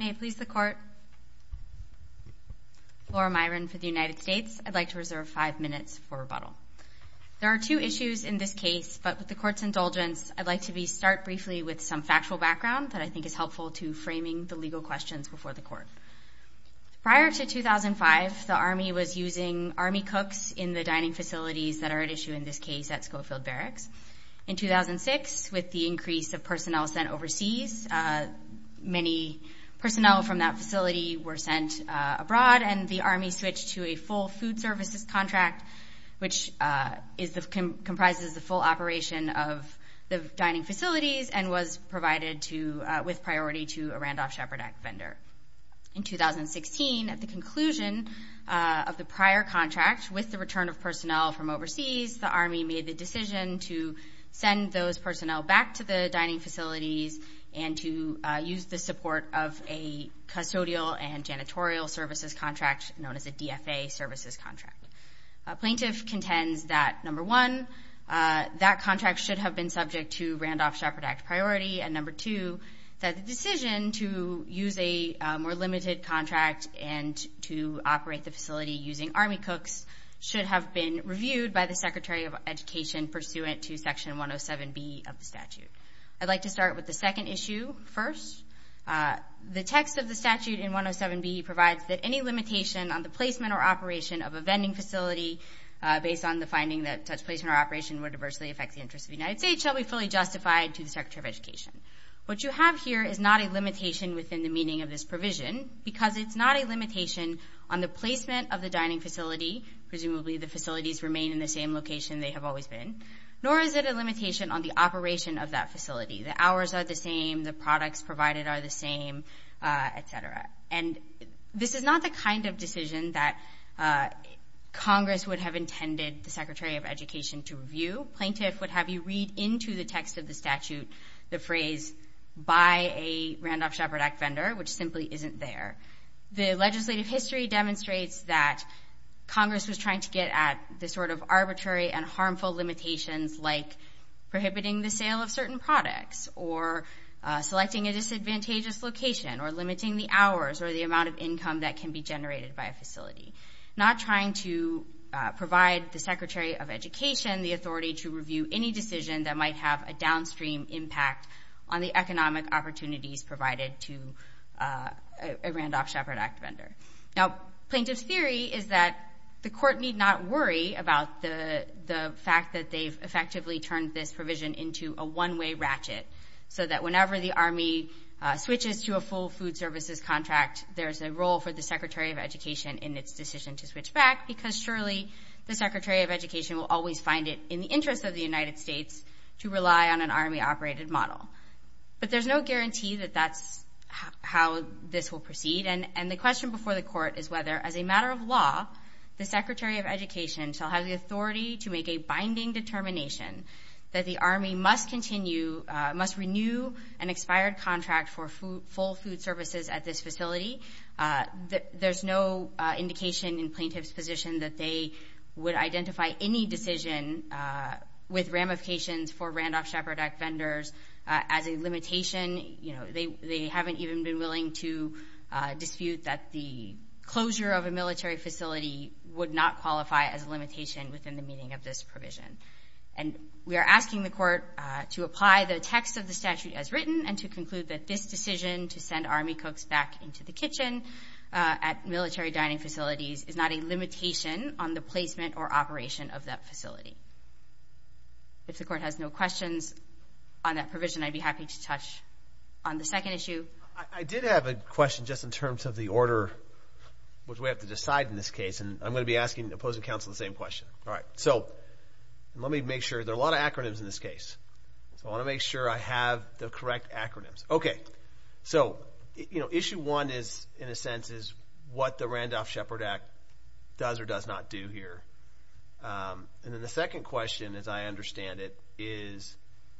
May it please the Court. Laura Myron for the United States. I'd like to reserve five minutes for rebuttal. There are two issues in this case, but with the Court's indulgence, I'd like to start briefly with some factual background that I think is helpful to framing the legal questions before the Court. Prior to 2005, the Army was using Army cooks in the dining facilities that are at issue in this case at Schofield Barracks. In 2006, with the increase of personnel sent overseas, many personnel from that facility were sent abroad, and the Army switched to a full food services contract, which comprises the full operation of the dining facilities and was provided with priority to a Randolph Shepard Act vendor. In 2016, at the conclusion of the prior contract, with the return of personnel from overseas, the Army made the decision to send those personnel back to the dining facilities and to use the support of a custodial and janitorial services contract known as a DFA services contract. A plaintiff contends that, number one, that contract should have been subject to Randolph Shepard Act priority, and number two, that the decision to use a more limited contract and to operate the facility using Army cooks should have been reviewed by the Secretary of Education pursuant to Section 107B of the statute. I'd like to start with the second issue first. The text of the statute in 107B provides that any limitation on the placement or operation of a vending facility based on the finding that such placement or operation would adversely affect the interests of the United States shall be fully justified to the Secretary of Education. What you have here is not a limitation within the meaning of this provision because it's not a limitation on the placement of the dining facility, presumably the facilities remain in the same location they have always been, nor is it a limitation on the operation of that facility. The hours are the same, the products provided are the same, et cetera. And this is not the kind of decision that Congress would have intended the Secretary of Education to review. Plaintiff would have you read into the text of the statute the phrase, buy a Randolph-Shepard Act vendor, which simply isn't there. The legislative history demonstrates that Congress was trying to get at the sort of arbitrary and harmful limitations like prohibiting the sale of certain products or selecting a disadvantageous location or limiting the hours or the amount of income that can be generated by a facility. Not trying to provide the Secretary of Education the authority to review any decision that might have a downstream impact on the economic opportunities provided to a Randolph-Shepard Act vendor. Now, plaintiff's theory is that the court need not worry about the fact that they've effectively turned this provision into a one-way ratchet so that whenever the Army switches to a full food services contract, there's a role for the Secretary of Education in its decision to switch back because surely the Secretary of Education will always find it in the interest of the United States to rely on an Army-operated model. But there's no guarantee that that's how this will proceed. And the question before the court is whether, as a matter of law, the Secretary of Education shall have the authority to make a binding determination that the Army must renew an expired contract for full food services at this facility. There's no indication in plaintiff's position that they would identify any decision with ramifications for Randolph-Shepard Act vendors as a limitation. They haven't even been willing to dispute that the closure of a military facility would not qualify as a limitation within the meaning of this provision. And we are asking the court to apply the text of the statute as written and to conclude that this decision to send Army cooks back into the kitchen at military dining facilities is not a limitation on the placement or operation of that facility. If the court has no questions on that provision, I'd be happy to touch on the second issue. I did have a question just in terms of the order which we have to decide in this case, and I'm going to be asking the opposing counsel the same question. All right, so let me make sure. There are a lot of acronyms in this case. So I want to make sure I have the correct acronyms. Okay, so issue one in a sense is what the Randolph-Shepard Act does or does not do here. And then the second question, as I understand it, is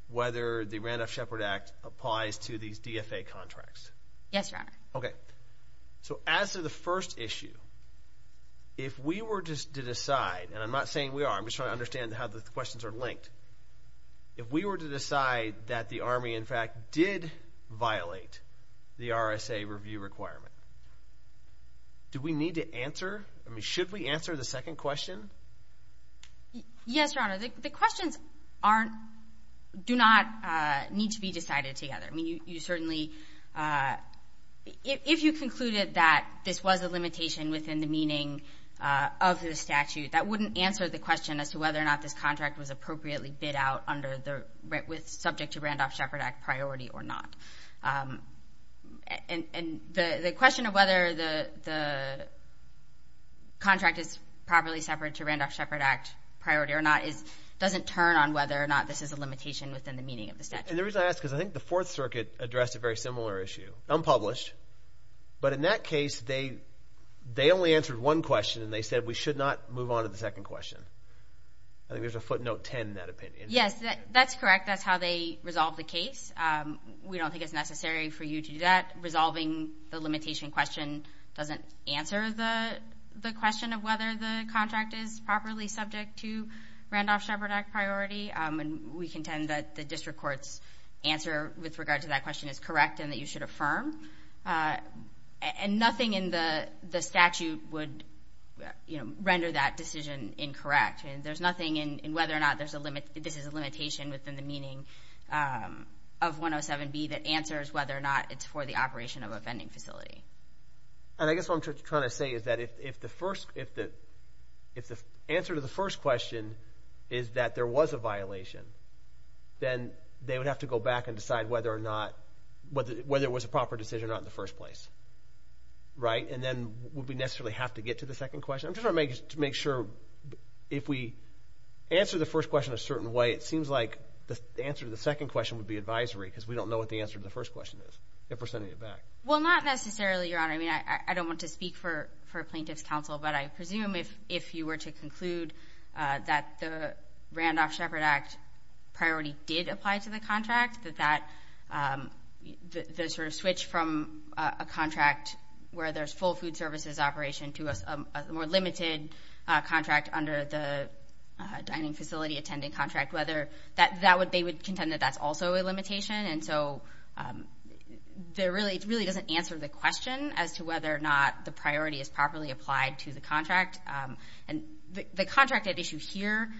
whether the Randolph-Shepard Act applies to these DFA contracts. Yes, Your Honor. Okay, so as to the first issue, if we were to decide, and I'm not saying we are. I'm just trying to understand how the questions are linked. If we were to decide that the Army, in fact, did violate the RSA review requirement, do we need to answer? I mean, should we answer the second question? Yes, Your Honor. The questions do not need to be decided together. I mean, you certainly, if you concluded that this was a limitation within the meaning of the statute, that wouldn't answer the question as to whether or not this contract was appropriately bid out with subject to Randolph-Shepard Act priority or not. And the question of whether the contract is properly separate to Randolph-Shepard Act priority or not doesn't turn on whether or not this is a limitation within the meaning of the statute. And the reason I ask is I think the Fourth Circuit addressed a very similar issue, unpublished. But in that case, they only answered one question, and they said we should not move on to the second question. I think there's a footnote 10 in that opinion. Yes, that's correct. That's how they resolved the case. We don't think it's necessary for you to do that. Resolving the limitation question doesn't answer the question of whether the contract is properly subject to Randolph-Shepard Act priority. We contend that the district court's answer with regard to that question is correct and that you should affirm. And nothing in the statute would render that decision incorrect. There's nothing in whether or not this is a limitation within the meaning of 107B that answers whether or not it's for the operation of a vending facility. And I guess what I'm trying to say is that if the answer to the first question is that there was a violation, then they would have to go back and decide whether or not it was a proper decision or not in the first place, right? And then would we necessarily have to get to the second question? I'm just trying to make sure if we answer the first question a certain way, it seems like the answer to the second question would be advisory because we don't know what the answer to the first question is if we're sending it back. Well, not necessarily, Your Honor. I mean, I don't want to speak for plaintiff's counsel, but I presume if you were to conclude that the Randolph-Shepard Act priority did apply to the contract, that the sort of switch from a contract where there's full food services operation to a more limited contract under the dining facility attending contract, they would contend that that's also a limitation. And so it really doesn't answer the question as to whether or not the priority is properly applied to the contract. And the contract at issue here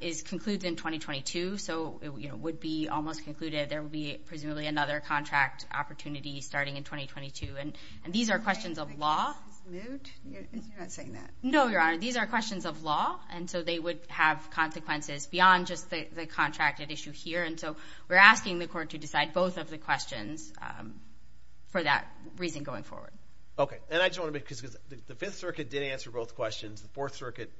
is concluded in 2022, so it would be almost concluded. There would be presumably another contract opportunity starting in 2022. And these are questions of law. You're not saying that. No, Your Honor. These are questions of law, and so they would have consequences beyond just the contract at issue here. And so we're asking the court to decide both of the questions for that reason going forward. Okay. And I just want to make, because the Fifth Circuit did answer both questions. The Fourth Circuit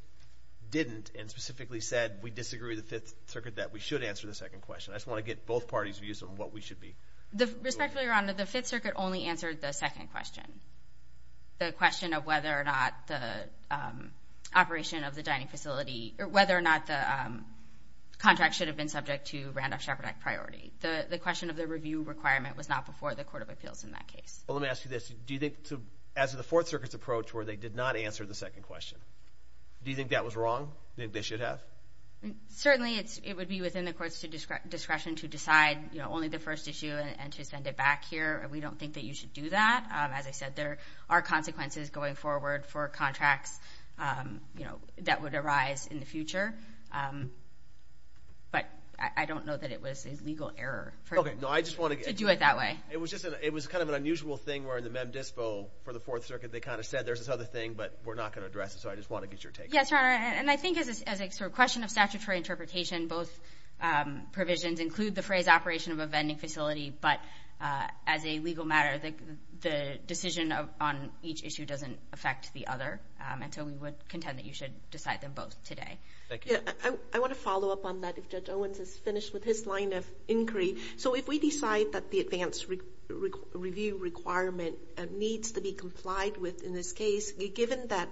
didn't and specifically said we disagree with the Fifth Circuit that we should answer the second question. I just want to get both parties' views on what we should be doing. Respectfully, Your Honor, the Fifth Circuit only answered the second question, the question of whether or not the operation of the dining facility or whether or not the contract should have been subject to Randolph-Chaparrack priority. The question of the review requirement was not before the Court of Appeals in that case. Well, let me ask you this. Do you think as the Fourth Circuit's approach where they did not answer the second question, do you think that was wrong? Do you think they should have? Certainly it would be within the court's discretion to decide only the first issue and to send it back here. We don't think that you should do that. As I said, there are consequences going forward for contracts that would arise in the future. But I don't know that it was a legal error to do it that way. It was kind of an unusual thing where in the Mem Dispo for the Fourth Circuit they kind of said there's this other thing, but we're not going to address it, so I just want to get your take on it. Yes, Your Honor, and I think as a question of statutory interpretation, both provisions include the phrase operation of a vending facility, but as a legal matter, the decision on each issue doesn't affect the other, and so we would contend that you should decide them both today. Thank you. I want to follow up on that if Judge Owens has finished with his line of inquiry. So if we decide that the advanced review requirement needs to be complied with in this case, given that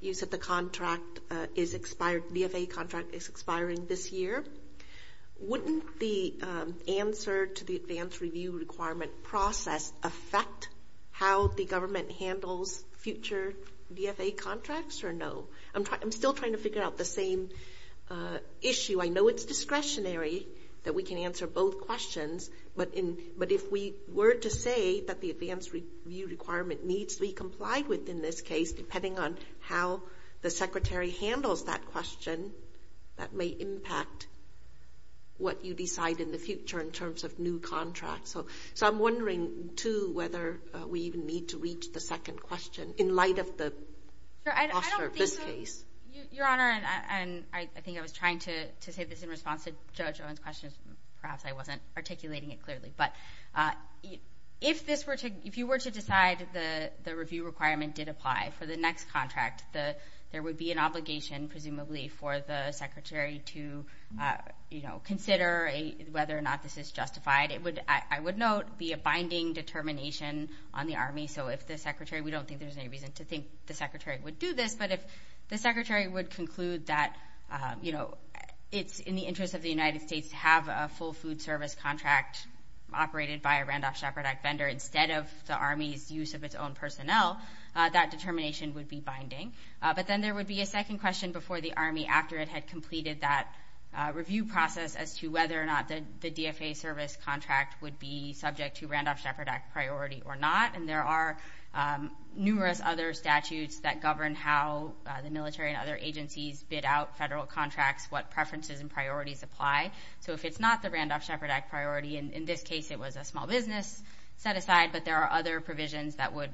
you said the contract is expired, the VFA contract is expiring this year, wouldn't the answer to the advanced review requirement process affect how the government handles future VFA contracts or no? I'm still trying to figure out the same issue. I know it's discretionary that we can answer both questions, but if we were to say that the advanced review requirement needs to be complied with in this case, depending on how the Secretary handles that question, that may impact what you decide in the future in terms of new contracts. So I'm wondering, too, whether we even need to reach the second question in light of the foster of this case. Your Honor, and I think I was trying to say this in response to Judge Owens' question, perhaps I wasn't articulating it clearly, but if you were to decide the review requirement did apply for the next contract, there would be an obligation, presumably, for the Secretary to consider whether or not this is justified. It would, I would note, be a binding determination on the Army. So if the Secretary, we don't think there's any reason to think the Secretary would do this, but if the Secretary would conclude that, you know, it's in the interest of the United States to have a full food service contract operated by a Randolph Shepard Act vendor instead of the Army's use of its own personnel, that determination would be binding. But then there would be a second question before the Army after it had completed that review process as to whether or not the DFA service contract would be subject to Randolph Shepard Act priority or not. And there are numerous other statutes that govern how the military and other agencies bid out federal contracts, what preferences and priorities apply. So if it's not the Randolph Shepard Act priority, in this case it was a small business set aside, but there are other provisions that would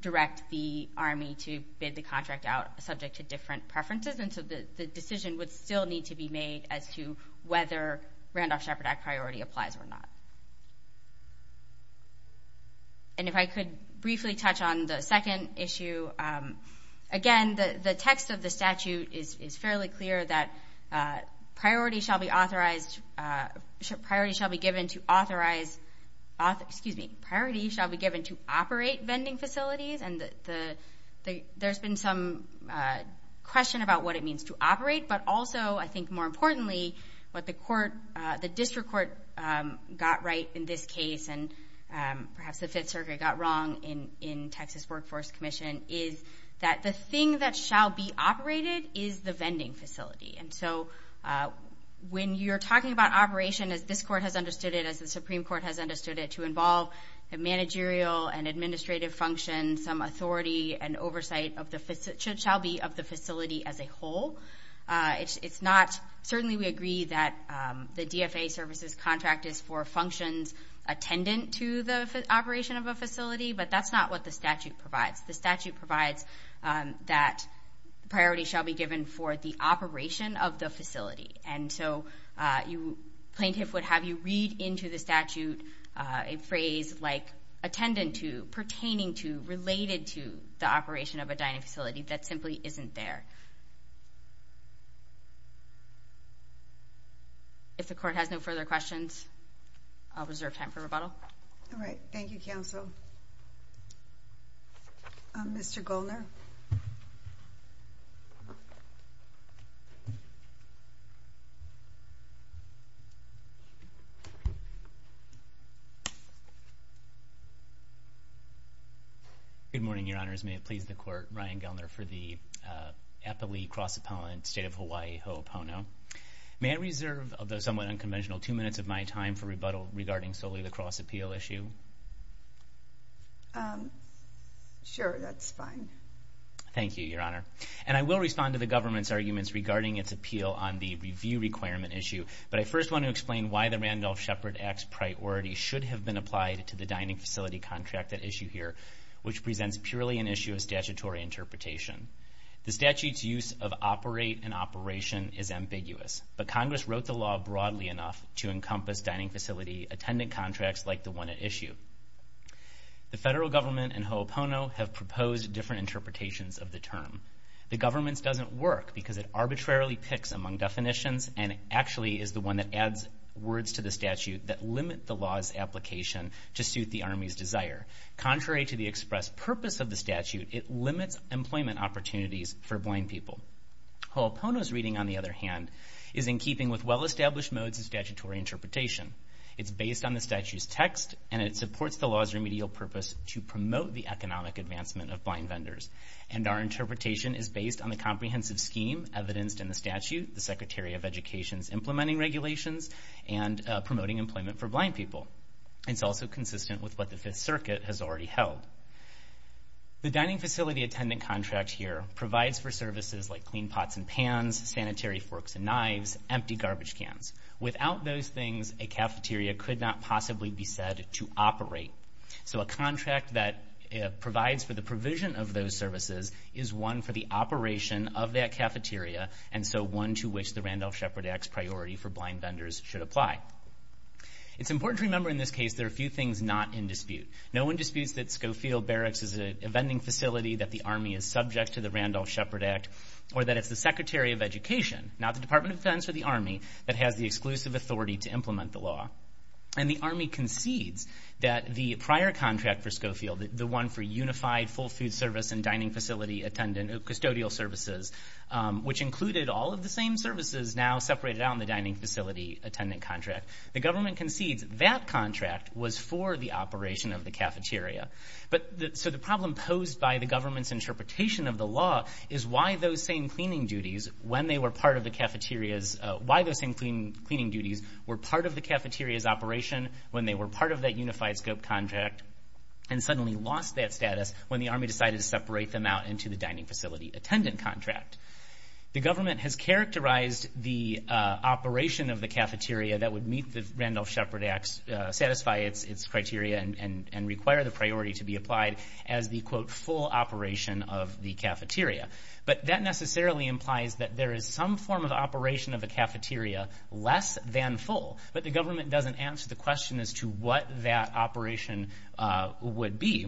direct the Army to bid the contract out subject to different preferences. And so the decision would still need to be made as to whether Randolph Shepard Act priority applies or not. And if I could briefly touch on the second issue. Again, the text of the statute is fairly clear that priority shall be authorized, priority shall be given to authorize, excuse me, priority shall be given to operate vending facilities, and there's been some question about what it means to operate. But also, I think more importantly, what the district court got right in this case, and perhaps the Fifth Circuit got wrong in Texas Workforce Commission, is that the thing that shall be operated is the vending facility. And so when you're talking about operation, as this court has understood it, as the Supreme Court has understood it, to involve a managerial and administrative function, some authority and oversight shall be of the facility as a whole. It's not, certainly we agree that the DFA services contract is for functions attendant to the operation of a facility, but that's not what the statute provides. The statute provides that priority shall be given for the operation of the facility. And so plaintiff would have you read into the statute a phrase like attendant to, pertaining to, related to the operation of a dining facility that simply isn't there. If the court has no further questions, I'll reserve time for rebuttal. All right. Thank you, counsel. Thank you. Mr. Goelner. Good morning, Your Honors. May it please the Court, Ryan Goelner for the Applee Cross Appellant, State of Hawaii, Ho'opono. May I reserve, although somewhat unconventional, two minutes of my time for rebuttal regarding solely the cross appeal issue? Sure, that's fine. Thank you, Your Honor. And I will respond to the government's arguments regarding its appeal on the review requirement issue, but I first want to explain why the Randolph Shepard Act's priority should have been applied to the dining facility contract at issue here, which presents purely an issue of statutory interpretation. The statute's use of operate and operation is ambiguous, but Congress wrote the law broadly enough to encompass dining facility attendant contracts like the one at issue. The federal government and Ho'opono have proposed different interpretations of the term. The government's doesn't work because it arbitrarily picks among definitions and actually is the one that adds words to the statute that limit the law's application to suit the Army's desire. Contrary to the express purpose of the statute, it limits employment opportunities for blind people. Ho'opono's reading, on the other hand, is in keeping with well-established modes of statutory interpretation. It's based on the statute's text, and it supports the law's remedial purpose to promote the economic advancement of blind vendors. And our interpretation is based on the comprehensive scheme evidenced in the statute, the Secretary of Education's implementing regulations, and promoting employment for blind people. It's also consistent with what the Fifth Circuit has already held. The dining facility attendant contract here provides for services like clean pots and pans, sanitary forks and knives, empty garbage cans. Without those things, a cafeteria could not possibly be said to operate. So a contract that provides for the provision of those services is one for the operation of that cafeteria, and so one to which the Randolph-Shepard Act's priority for blind vendors should apply. It's important to remember in this case there are a few things not in dispute. No one disputes that Schofield Barracks is a vending facility that the Army is subject to the Randolph-Shepard Act, or that it's the Secretary of Education, not the Department of Defense or the Army, that has the exclusive authority to implement the law. And the Army concedes that the prior contract for Schofield, the one for unified full food service and dining facility custodial services, which included all of the same services now separated out in the dining facility attendant contract, the government concedes that contract was for the operation of the cafeteria. So the problem posed by the government's interpretation of the law is why those same cleaning duties were part of the cafeteria's operation when they were part of that unified scope contract and suddenly lost that status when the Army decided to separate them out into the dining facility attendant contract. The government has characterized the operation of the cafeteria that would meet the Randolph-Shepard Act's, satisfy its criteria and require the priority to be applied as the, quote, full operation of the cafeteria. But that necessarily implies that there is some form of operation of the cafeteria less than full, but the government doesn't answer the question as to what that operation would be.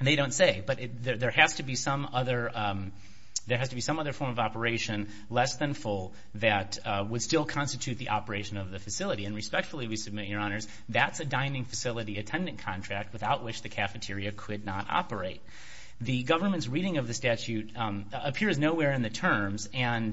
They don't say, but there has to be some other form of operation less than full that would still constitute the operation of the facility. And respectfully, we submit, Your Honors, that's a dining facility attendant contract without which the cafeteria could not operate. The government's reading of the statute appears nowhere in the terms, and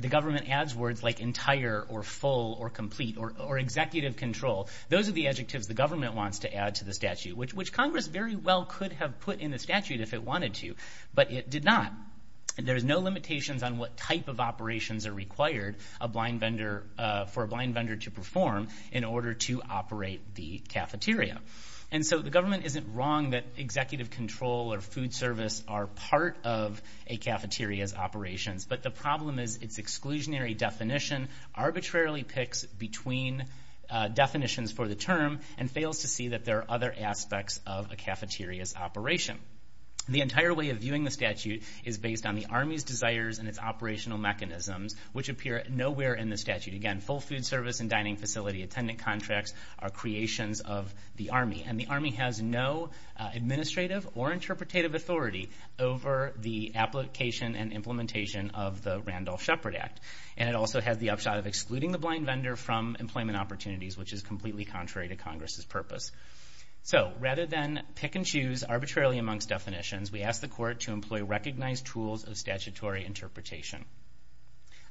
the government adds words like entire or full or complete or executive control. Those are the adjectives the government wants to add to the statute, which Congress very well could have put in the statute if it wanted to, but it did not. There's no limitations on what type of operations are required for a blind vendor to perform in order to operate the cafeteria. And so the government isn't wrong that executive control or food service are part of a cafeteria's operations, but the problem is its exclusionary definition arbitrarily picks between definitions for the term and fails to see that there are other aspects of a cafeteria's operation. The entire way of viewing the statute is based on the Army's desires and its operational mechanisms, which appear nowhere in the statute. Again, full food service and dining facility attendant contracts are creations of the Army, and the Army has no administrative or interpretative authority over the application and implementation of the Randolph-Shepard Act, and it also has the upshot of excluding the blind vendor from employment opportunities, which is completely contrary to Congress's purpose. So rather than pick and choose arbitrarily amongst definitions, we ask the court to employ recognized tools of statutory interpretation.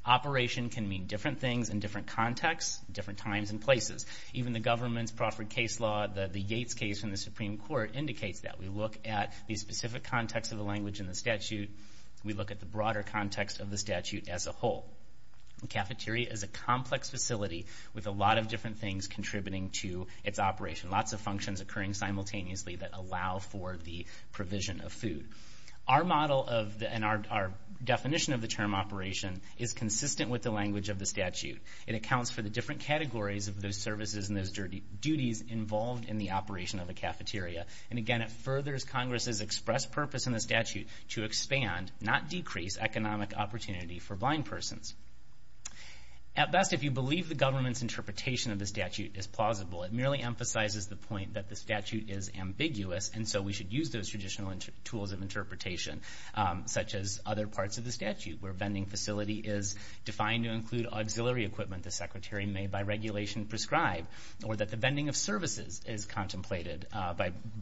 Operation can mean different things in different contexts, different times and places. Even the government's Crawford case law, the Yates case in the Supreme Court, indicates that. We look at the specific context of the language in the statute. We look at the broader context of the statute as a whole. A cafeteria is a complex facility with a lot of different things contributing to its operation, lots of functions occurring simultaneously that allow for the provision of food. Our model and our definition of the term operation is consistent with the language of the statute. It accounts for the different categories of those services and those duties involved in the operation of a cafeteria. And again, it furthers Congress's express purpose in the statute to expand, not decrease, economic opportunity for blind persons. At best, if you believe the government's interpretation of the statute is plausible, it merely emphasizes the point that the statute is ambiguous, and so we should use those traditional tools of interpretation, such as other parts of the statute, where a vending facility is defined to include auxiliary equipment the secretary may by regulation prescribe, or that the vending of services is contemplated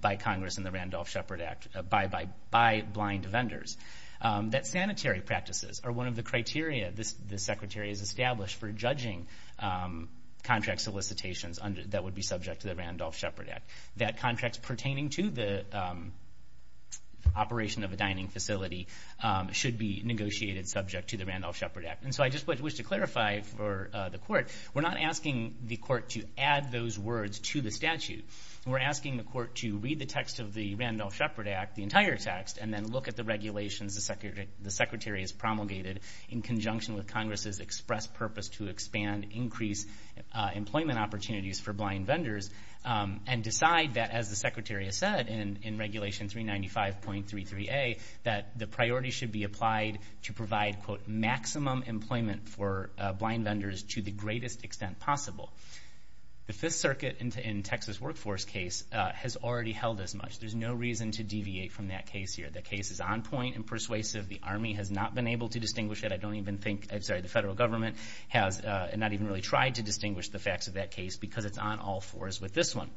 by Congress in the Randolph-Shepard Act by blind vendors. That sanitary practices are one of the criteria the secretary has established for judging contract solicitations that would be subject to the Randolph-Shepard Act. That contracts pertaining to the operation of a dining facility should be negotiated subject to the Randolph-Shepard Act. And so I just wish to clarify for the court, we're not asking the court to add those words to the statute. We're asking the court to read the text of the Randolph-Shepard Act, the entire text, and then look at the regulations the secretary has promulgated in conjunction with Congress's express purpose to expand increased employment opportunities for blind vendors and decide that, as the secretary has said in Regulation 395.33a, that the priority should be applied to provide, quote, maximum employment for blind vendors to the greatest extent possible. The Fifth Circuit in Texas workforce case has already held as much. There's no reason to deviate from that case here. The case is on point and persuasive. The Army has not been able to distinguish it. I don't even think, I'm sorry, the federal government has not even really tried to distinguish the facts of that case because it's on all fours with this one.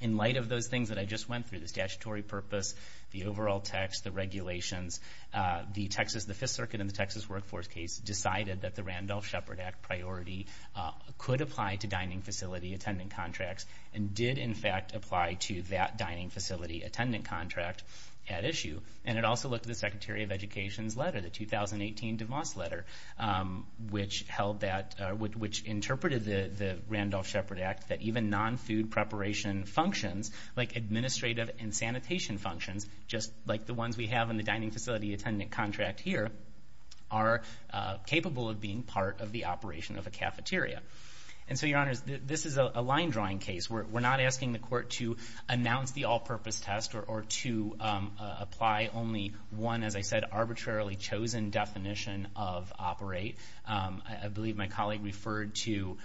In light of those things that I just went through, the statutory purpose, the overall text, the regulations, the Fifth Circuit in the Texas workforce case decided that the Randolph-Shepard Act priority could apply to dining facility attendant contracts and did, in fact, apply to that dining facility attendant contract at issue. And it also looked at the Secretary of Education's letter, the 2018 DeMoss letter, which held that, which interpreted the Randolph-Shepard Act that even non-food preparation functions, like administrative and sanitation functions, just like the ones we have in the dining facility attendant contract here, are capable of being part of the operation of a cafeteria. And so, Your Honors, this is a line-drawing case. We're not asking the court to announce the all-purpose test or to apply only one, as I said, arbitrarily chosen definition of operate. I believe my colleague referred to,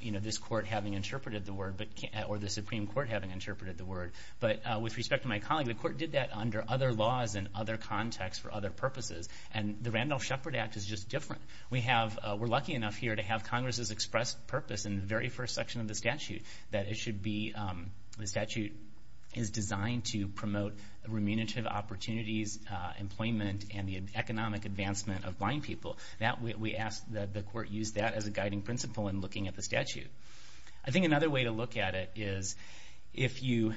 you know, this court having interpreted the word, or the Supreme Court having interpreted the word. But with respect to my colleague, the court did that under other laws and other contexts for other purposes. And the Randolph-Shepard Act is just different. We're lucky enough here to have Congress's expressed purpose in the very first section of the statute that it should be, the statute is designed to promote remunerative opportunities, employment, and the economic advancement of blind people. We ask that the court use that as a guiding principle in looking at the statute. I think another way to look at it is if you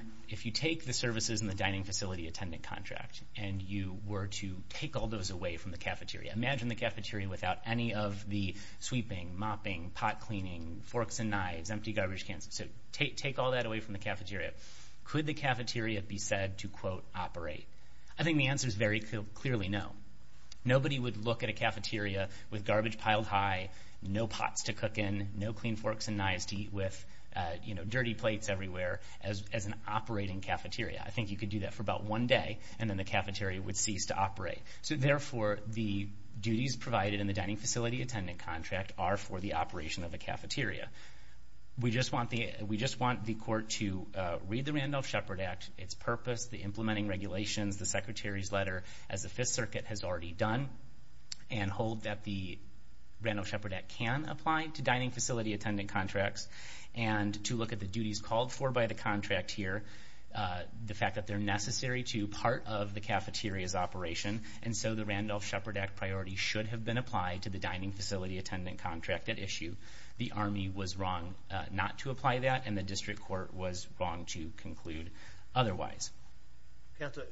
take the services in the dining facility attendant contract and you were to take all those away from the cafeteria, imagine the cafeteria without any of the sweeping, mopping, pot cleaning, forks and knives, empty garbage cans. So take all that away from the cafeteria. Could the cafeteria be said to, quote, operate? I think the answer is very clearly no. Nobody would look at a cafeteria with garbage piled high, no pots to cook in, no clean forks and knives to eat with, you know, dirty plates everywhere, as an operating cafeteria. I think you could do that for about one day, and then the cafeteria would cease to operate. So, therefore, the duties provided in the dining facility attendant contract are for the operation of a cafeteria. We just want the court to read the Randolph-Shepard Act, its purpose, the implementing regulations, the secretary's letter, as the Fifth Circuit has already done, and hold that the Randolph-Shepard Act can apply to dining facility attendant contracts, and to look at the duties called for by the contract here, the fact that they're necessary to part of the cafeteria's operation, and so the Randolph-Shepard Act priority should have been applied to the dining facility attendant contract at issue. The Army was wrong not to apply that, and the district court was wrong to conclude otherwise. Counsel,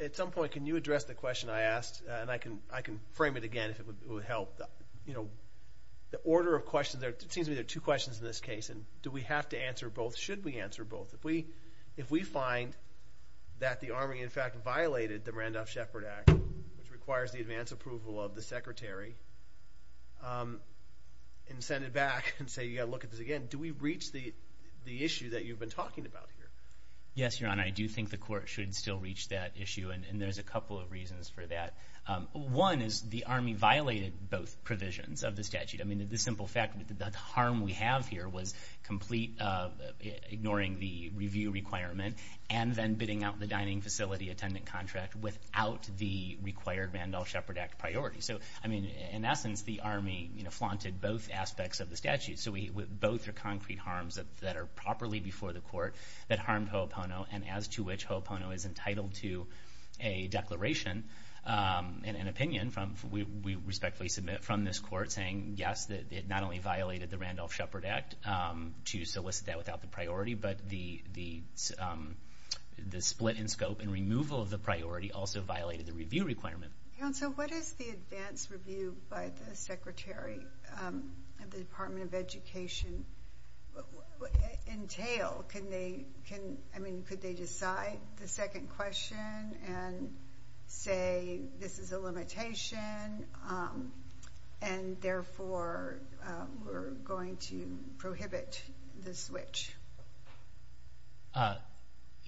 at some point, can you address the question I asked? And I can frame it again if it would help. You know, the order of questions, it seems to me there are two questions in this case, and do we have to answer both? Should we answer both? If we find that the Army, in fact, violated the Randolph-Shepard Act, which requires the advance approval of the secretary, and send it back and say you've got to look at this again, do we reach the issue that you've been talking about here? Yes, Your Honor, I do think the court should still reach that issue, and there's a couple of reasons for that. One is the Army violated both provisions of the statute. I mean, the simple fact that the harm we have here was complete ignoring the review requirement and then bidding out the dining facility attendant contract without the required Randolph-Shepard Act priority. So, I mean, in essence, the Army, you know, flaunted both aspects of the statute. So both are concrete harms that are properly before the court that harmed Ho'opono, and as to which Ho'opono is entitled to a declaration and an opinion, we respectfully submit from this court saying, yes, that it not only violated the Randolph-Shepard Act to solicit that without the priority, but the split in scope and removal of the priority also violated the review requirement. Counsel, what does the advance review by the secretary of the Department of Education entail? I mean, could they decide the second question and say this is a limitation and therefore we're going to prohibit the switch?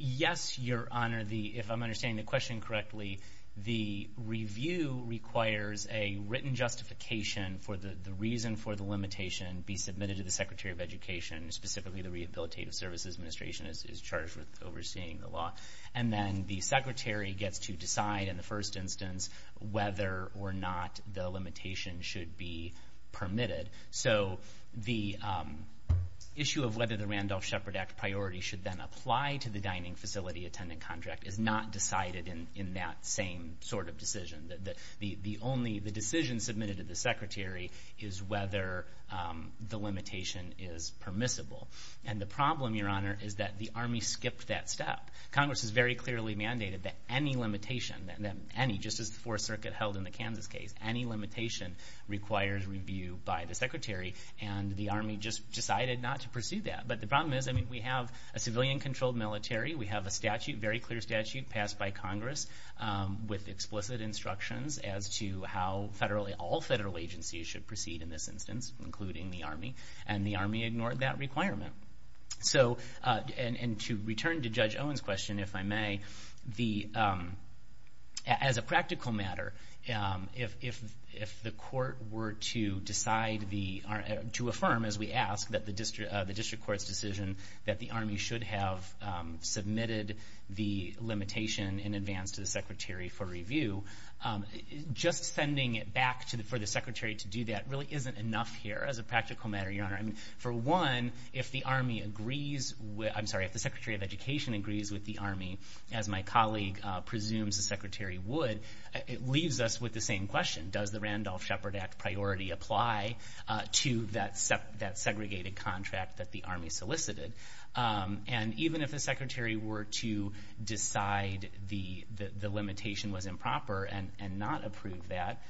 Yes, Your Honor. If I'm understanding the question correctly, the review requires a written justification for the reason for the limitation be submitted to the secretary of education, specifically the Rehabilitative Services Administration is charged with overseeing the law, and then the secretary gets to decide in the first instance whether or not the limitation should be permitted. So the issue of whether the Randolph-Shepard Act priority should then apply to the dining facility attendant contract is not decided in that same sort of decision. The decision submitted to the secretary is whether the limitation is permissible. And the problem, Your Honor, is that the Army skipped that step. Congress has very clearly mandated that any limitation, just as the Fourth Circuit held in the Kansas case, any limitation requires review by the secretary, and the Army just decided not to pursue that. But the problem is we have a civilian-controlled military. We have a statute, a very clear statute, passed by Congress with explicit instructions as to how all federal agencies should proceed in this instance, including the Army, and the Army ignored that requirement. And to return to Judge Owen's question, if I may, as a practical matter, if the court were to decide to affirm, as we ask, the district court's decision that the Army should have submitted the limitation in advance to the secretary for review, just sending it back for the secretary to do that really isn't enough here, as a practical matter, Your Honor. For one, if the Army agrees with the Secretary of Education agrees with the Army, as my colleague presumes the secretary would, it leaves us with the same question. Does the Randolph-Shepard Act priority apply to that segregated contract that the Army solicited? And even if the secretary were to decide the limitation was improper and not approve that,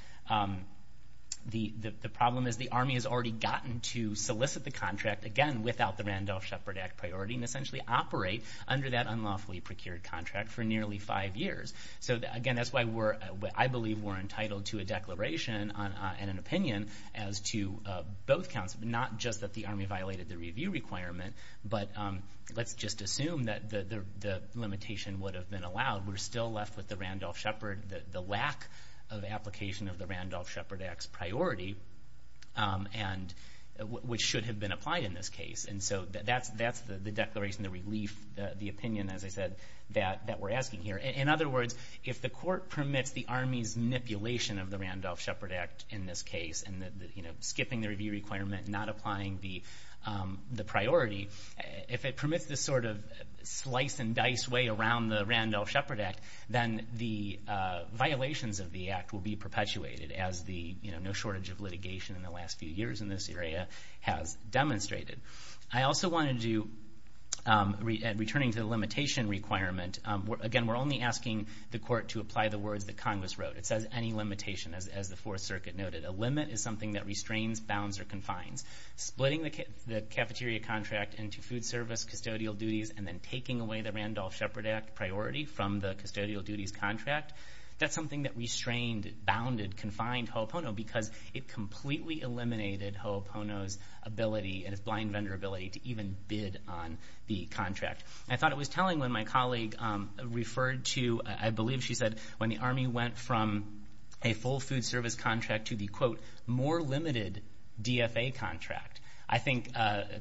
the problem is the Army has already gotten to solicit the contract, again, without the Randolph-Shepard Act priority, and essentially operate under that unlawfully procured contract for nearly five years. So, again, that's why I believe we're entitled to a declaration and an opinion as to both counts, not just that the Army violated the review requirement, but let's just assume that the limitation would have been allowed. We're still left with the Randolph-Shepard, the lack of application of the Randolph-Shepard Act's priority, which should have been applied in this case. And so that's the declaration, the relief, the opinion, as I said, that we're asking here. In other words, if the court permits the Army's manipulation of the Randolph-Shepard Act in this case, and skipping the review requirement, not applying the priority, if it permits this sort of slice-and-dice way around the Randolph-Shepard Act, then the violations of the act will be perpetuated, as no shortage of litigation in the last few years in this area has demonstrated. I also want to do, returning to the limitation requirement, again, we're only asking the court to apply the words that Congress wrote. It says any limitation, as the Fourth Circuit noted. A limit is something that restrains, bounds, or confines. Splitting the cafeteria contract into food service, custodial duties, and then taking away the Randolph-Shepard Act priority from the custodial duties contract, that's something that restrained, bounded, confined Ho'opono because it completely eliminated Ho'opono's ability and his blind vendor ability to even bid on the contract. I thought it was telling when my colleague referred to, I believe she said, when the Army went from a full food service contract to the, quote, more limited DFA contract. I think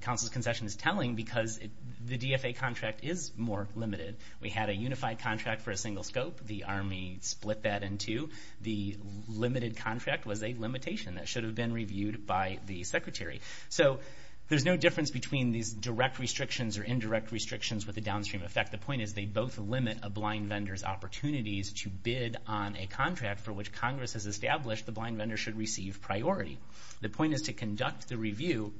counsel's concession is telling because the DFA contract is more limited. We had a unified contract for a single scope. The Army split that in two. The limited contract was a limitation that should have been reviewed by the secretary. So there's no difference between these direct restrictions or indirect restrictions with a downstream effect. The point is they both limit a blind vendor's opportunities to bid on a contract for which Congress has established the blind vendor should receive priority. The point is to conduct the review,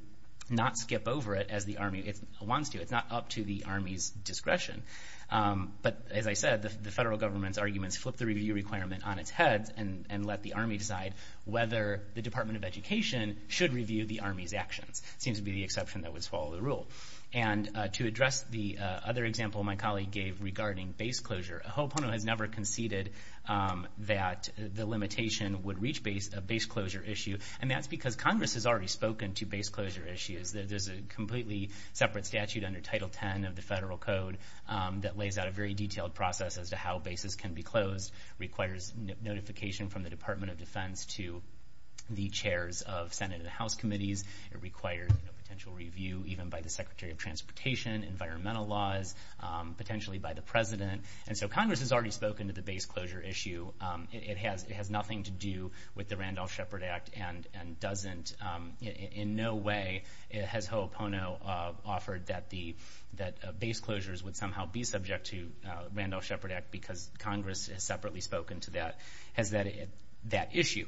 not skip over it as the Army wants to. It's not up to the Army's discretion. But as I said, the federal government's arguments flip the review requirement on its head and let the Army decide whether the Department of Education should review the Army's actions. It seems to be the exception that would swallow the rule. And to address the other example my colleague gave regarding base closure, Ho'opono has never conceded that the limitation would reach a base closure issue, and that's because Congress has already spoken to base closure issues. There's a completely separate statute under Title X of the federal code that lays out a very detailed process as to how bases can be closed. It requires notification from the Department of Defense to the chairs of Senate and House committees. It requires a potential review even by the Secretary of Transportation, environmental laws, potentially by the president. And so Congress has already spoken to the base closure issue. It has nothing to do with the Randolph-Shepard Act and doesn't in no way has Ho'opono offered that base closures would somehow be subject to Randolph-Shepard Act because Congress has separately spoken to that issue.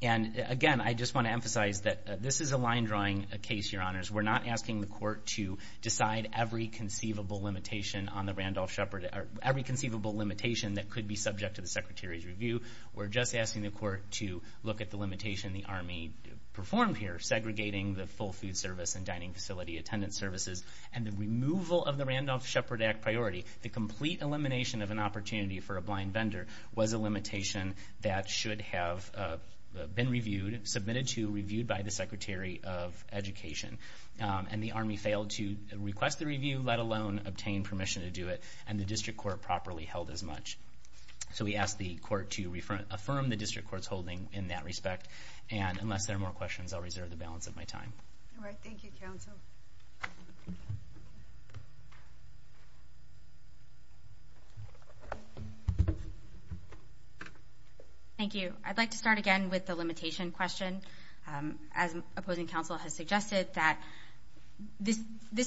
And again, I just want to emphasize that this is a line drawing case, Your Honors. We're not asking the court to decide every conceivable limitation on the Randolph-Shepard Act, every conceivable limitation that could be subject to the Secretary's review. We're just asking the court to look at the limitation the Army performed here, segregating the full food service and dining facility attendance services and the removal of the Randolph-Shepard Act priority. The complete elimination of an opportunity for a blind vendor was a limitation that should have been reviewed, submitted to, reviewed by the Secretary of Education. And the Army failed to request the review, let alone obtain permission to do it, and the district court properly held as much. So we ask the court to affirm the district court's holding in that respect. And unless there are more questions, I'll reserve the balance of my time. All right. Thank you, counsel. Thank you. I'd like to start again with the limitation question. As opposing counsel has suggested, this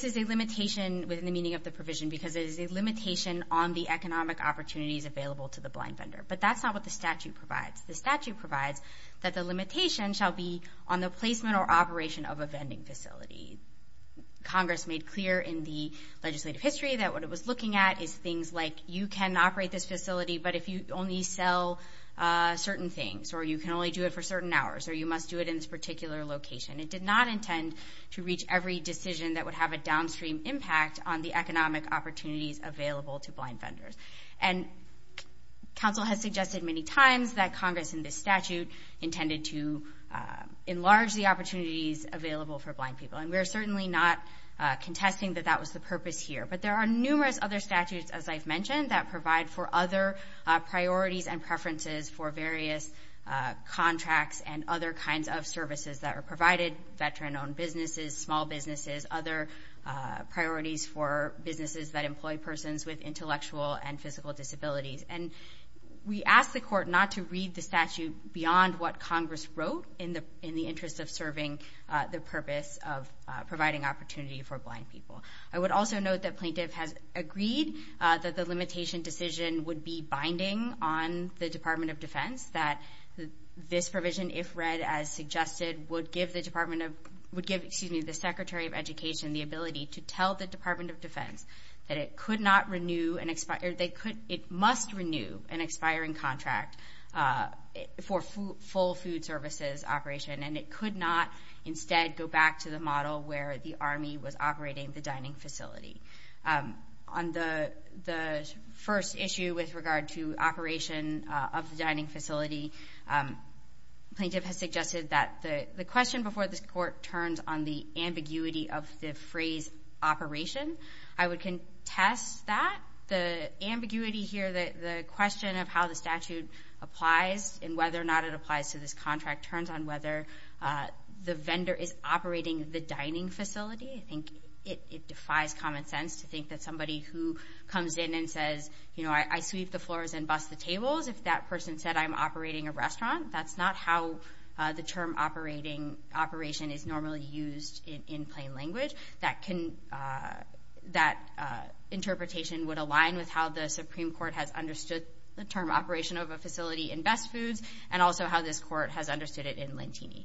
is a limitation within the meaning of the provision because it is a limitation on the economic opportunities available to the blind vendor. But that's not what the statute provides. The statute provides that the limitation shall be on the placement or operation of a vending facility. Congress made clear in the legislative history that what it was looking at is things like, you can operate this facility, but if you only sell certain things, or you can only do it for certain hours, or you must do it in this particular location. It did not intend to reach every decision that would have a downstream impact on the economic opportunities available to blind vendors. And counsel has suggested many times that Congress, in this statute, intended to enlarge the opportunities available for blind people. And we are certainly not contesting that that was the purpose here. But there are numerous other statutes, as I've mentioned, that provide for other priorities and preferences for various contracts and other kinds of services that are provided, veteran-owned businesses, small businesses, other priorities for businesses that employ persons with intellectual and physical disabilities. And we ask the Court not to read the statute beyond what Congress wrote in the interest of serving the purpose of providing opportunity for blind people. I would also note that plaintiff has agreed that the limitation decision would be binding on the Department of Defense, that this provision, if read as suggested, would give the Secretary of Education the ability to tell the Department of Defense that it must renew an expiring contract for full food services operation, and it could not instead go back to the model where the Army was operating the dining facility. On the first issue with regard to operation of the dining facility, plaintiff has suggested that the question before this Court turns on the ambiguity of the phrase operation. I would contest that. The ambiguity here, the question of how the statute applies and whether or not it applies to this contract, turns on whether the vendor is operating the dining facility. I think it defies common sense to think that somebody who comes in and says, you know, I sweep the floors and bust the tables, if that person said I'm operating a restaurant, that's not how the term operation is normally used in plain language. That interpretation would align with how the Supreme Court has understood the term operation of a facility in best foods and also how this Court has understood it in Lentini.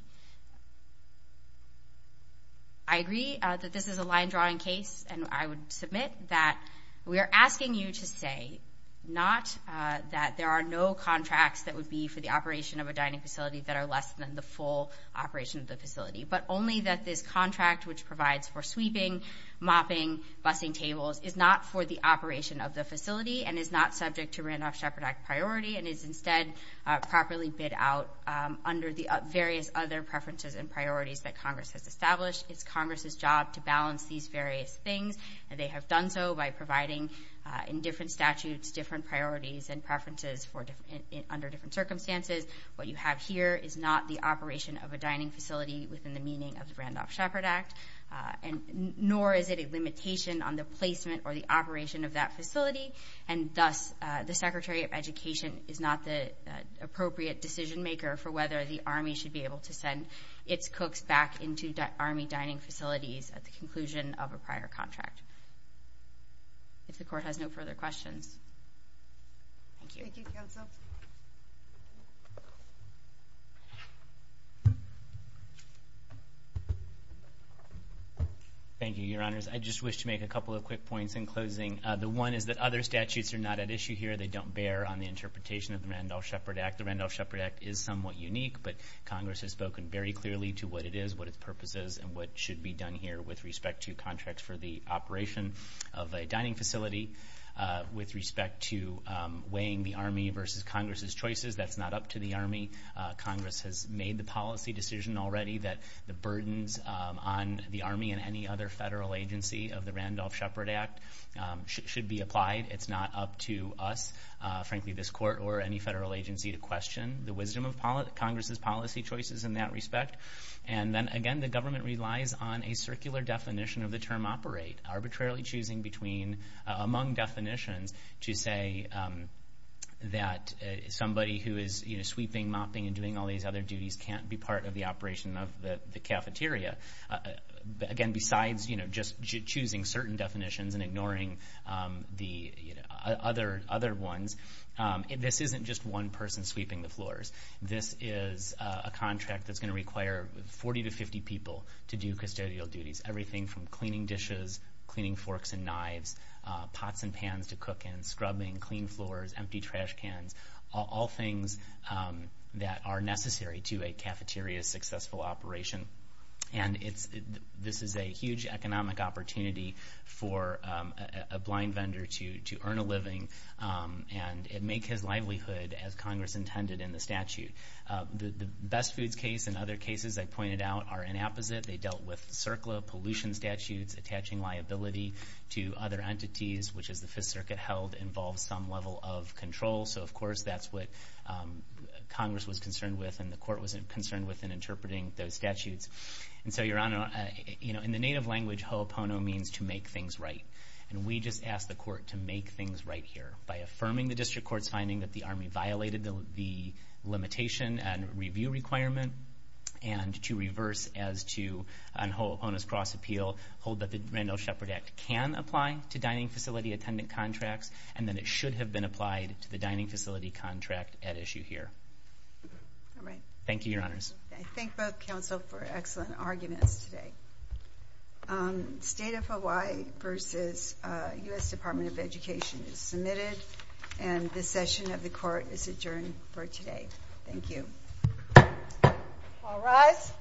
I agree that this is a line-drawing case, and I would submit that we are asking you to say not that there are no contracts that would be for the operation of a dining facility that are less than the full operation of the facility, but only that this contract, which provides for sweeping, mopping, busing tables, is not for the operation of the facility and is not subject to Randolph-Shepard Act priority and is instead properly bid out under the various other preferences and priorities that Congress has established. It's Congress's job to balance these various things, and they have done so by providing, in different statutes, different priorities and preferences under different circumstances. What you have here is not the operation of a dining facility within the meaning of the Randolph-Shepard Act, nor is it a limitation on the placement or the operation of that facility, and thus the Secretary of Education is not the appropriate decision-maker for whether the Army should be able to send its cooks back into Army dining facilities at the conclusion of a prior contract. If the Court has no further questions. Thank you. Thank you, Counsel. Thank you, Your Honors. I just wish to make a couple of quick points in closing. The one is that other statutes are not at issue here. They don't bear on the interpretation of the Randolph-Shepard Act. The Randolph-Shepard Act is somewhat unique, but Congress has spoken very clearly to what it is, what its purpose is, and what should be done here with respect to contracts for the operation of a dining facility. With respect to weighing the Army versus Congress's choices, that's not up to the Army. Congress has made the policy decision already that the burdens on the Army and any other federal agency of the Randolph-Shepard Act should be applied. It's not up to us, frankly this Court or any federal agency, to question the wisdom of Congress's policy choices in that respect. And then, again, the government relies on a circular definition of the term operate, arbitrarily choosing among definitions to say that somebody who is sweeping, mopping, and doing all these other duties can't be part of the operation of the cafeteria. Again, besides just choosing certain definitions and ignoring the other ones, this isn't just one person sweeping the floors. This is a contract that's going to require 40 to 50 people to do custodial duties, everything from cleaning dishes, cleaning forks and knives, pots and pans to cook in, scrubbing, clean floors, empty trash cans, all things that are necessary to a cafeteria's successful operation. And this is a huge economic opportunity for a blind vendor to earn a living and make his livelihood as Congress intended in the statute. The Best Foods case and other cases I pointed out are an opposite. They dealt with circular pollution statutes, attaching liability to other entities, which, as the Fifth Circuit held, involves some level of control. So, of course, that's what Congress was concerned with and the court was concerned with in interpreting those statutes. And so, Your Honor, in the native language, ho'opono means to make things right. And we just asked the court to make things right here by affirming the district court's finding that the Army violated the limitation and review requirement and to reverse as to, on Ho'opono's cross-appeal, hold that the Randolph-Shepard Act can apply to dining facility attendant contracts and that it should have been applied to the dining facility contract at issue here. All right. Thank you, Your Honors. I thank both counsel for excellent arguments today. State of Hawaii v. U.S. Department of Education is submitted, and this session of the court is adjourned for today. Thank you. All rise.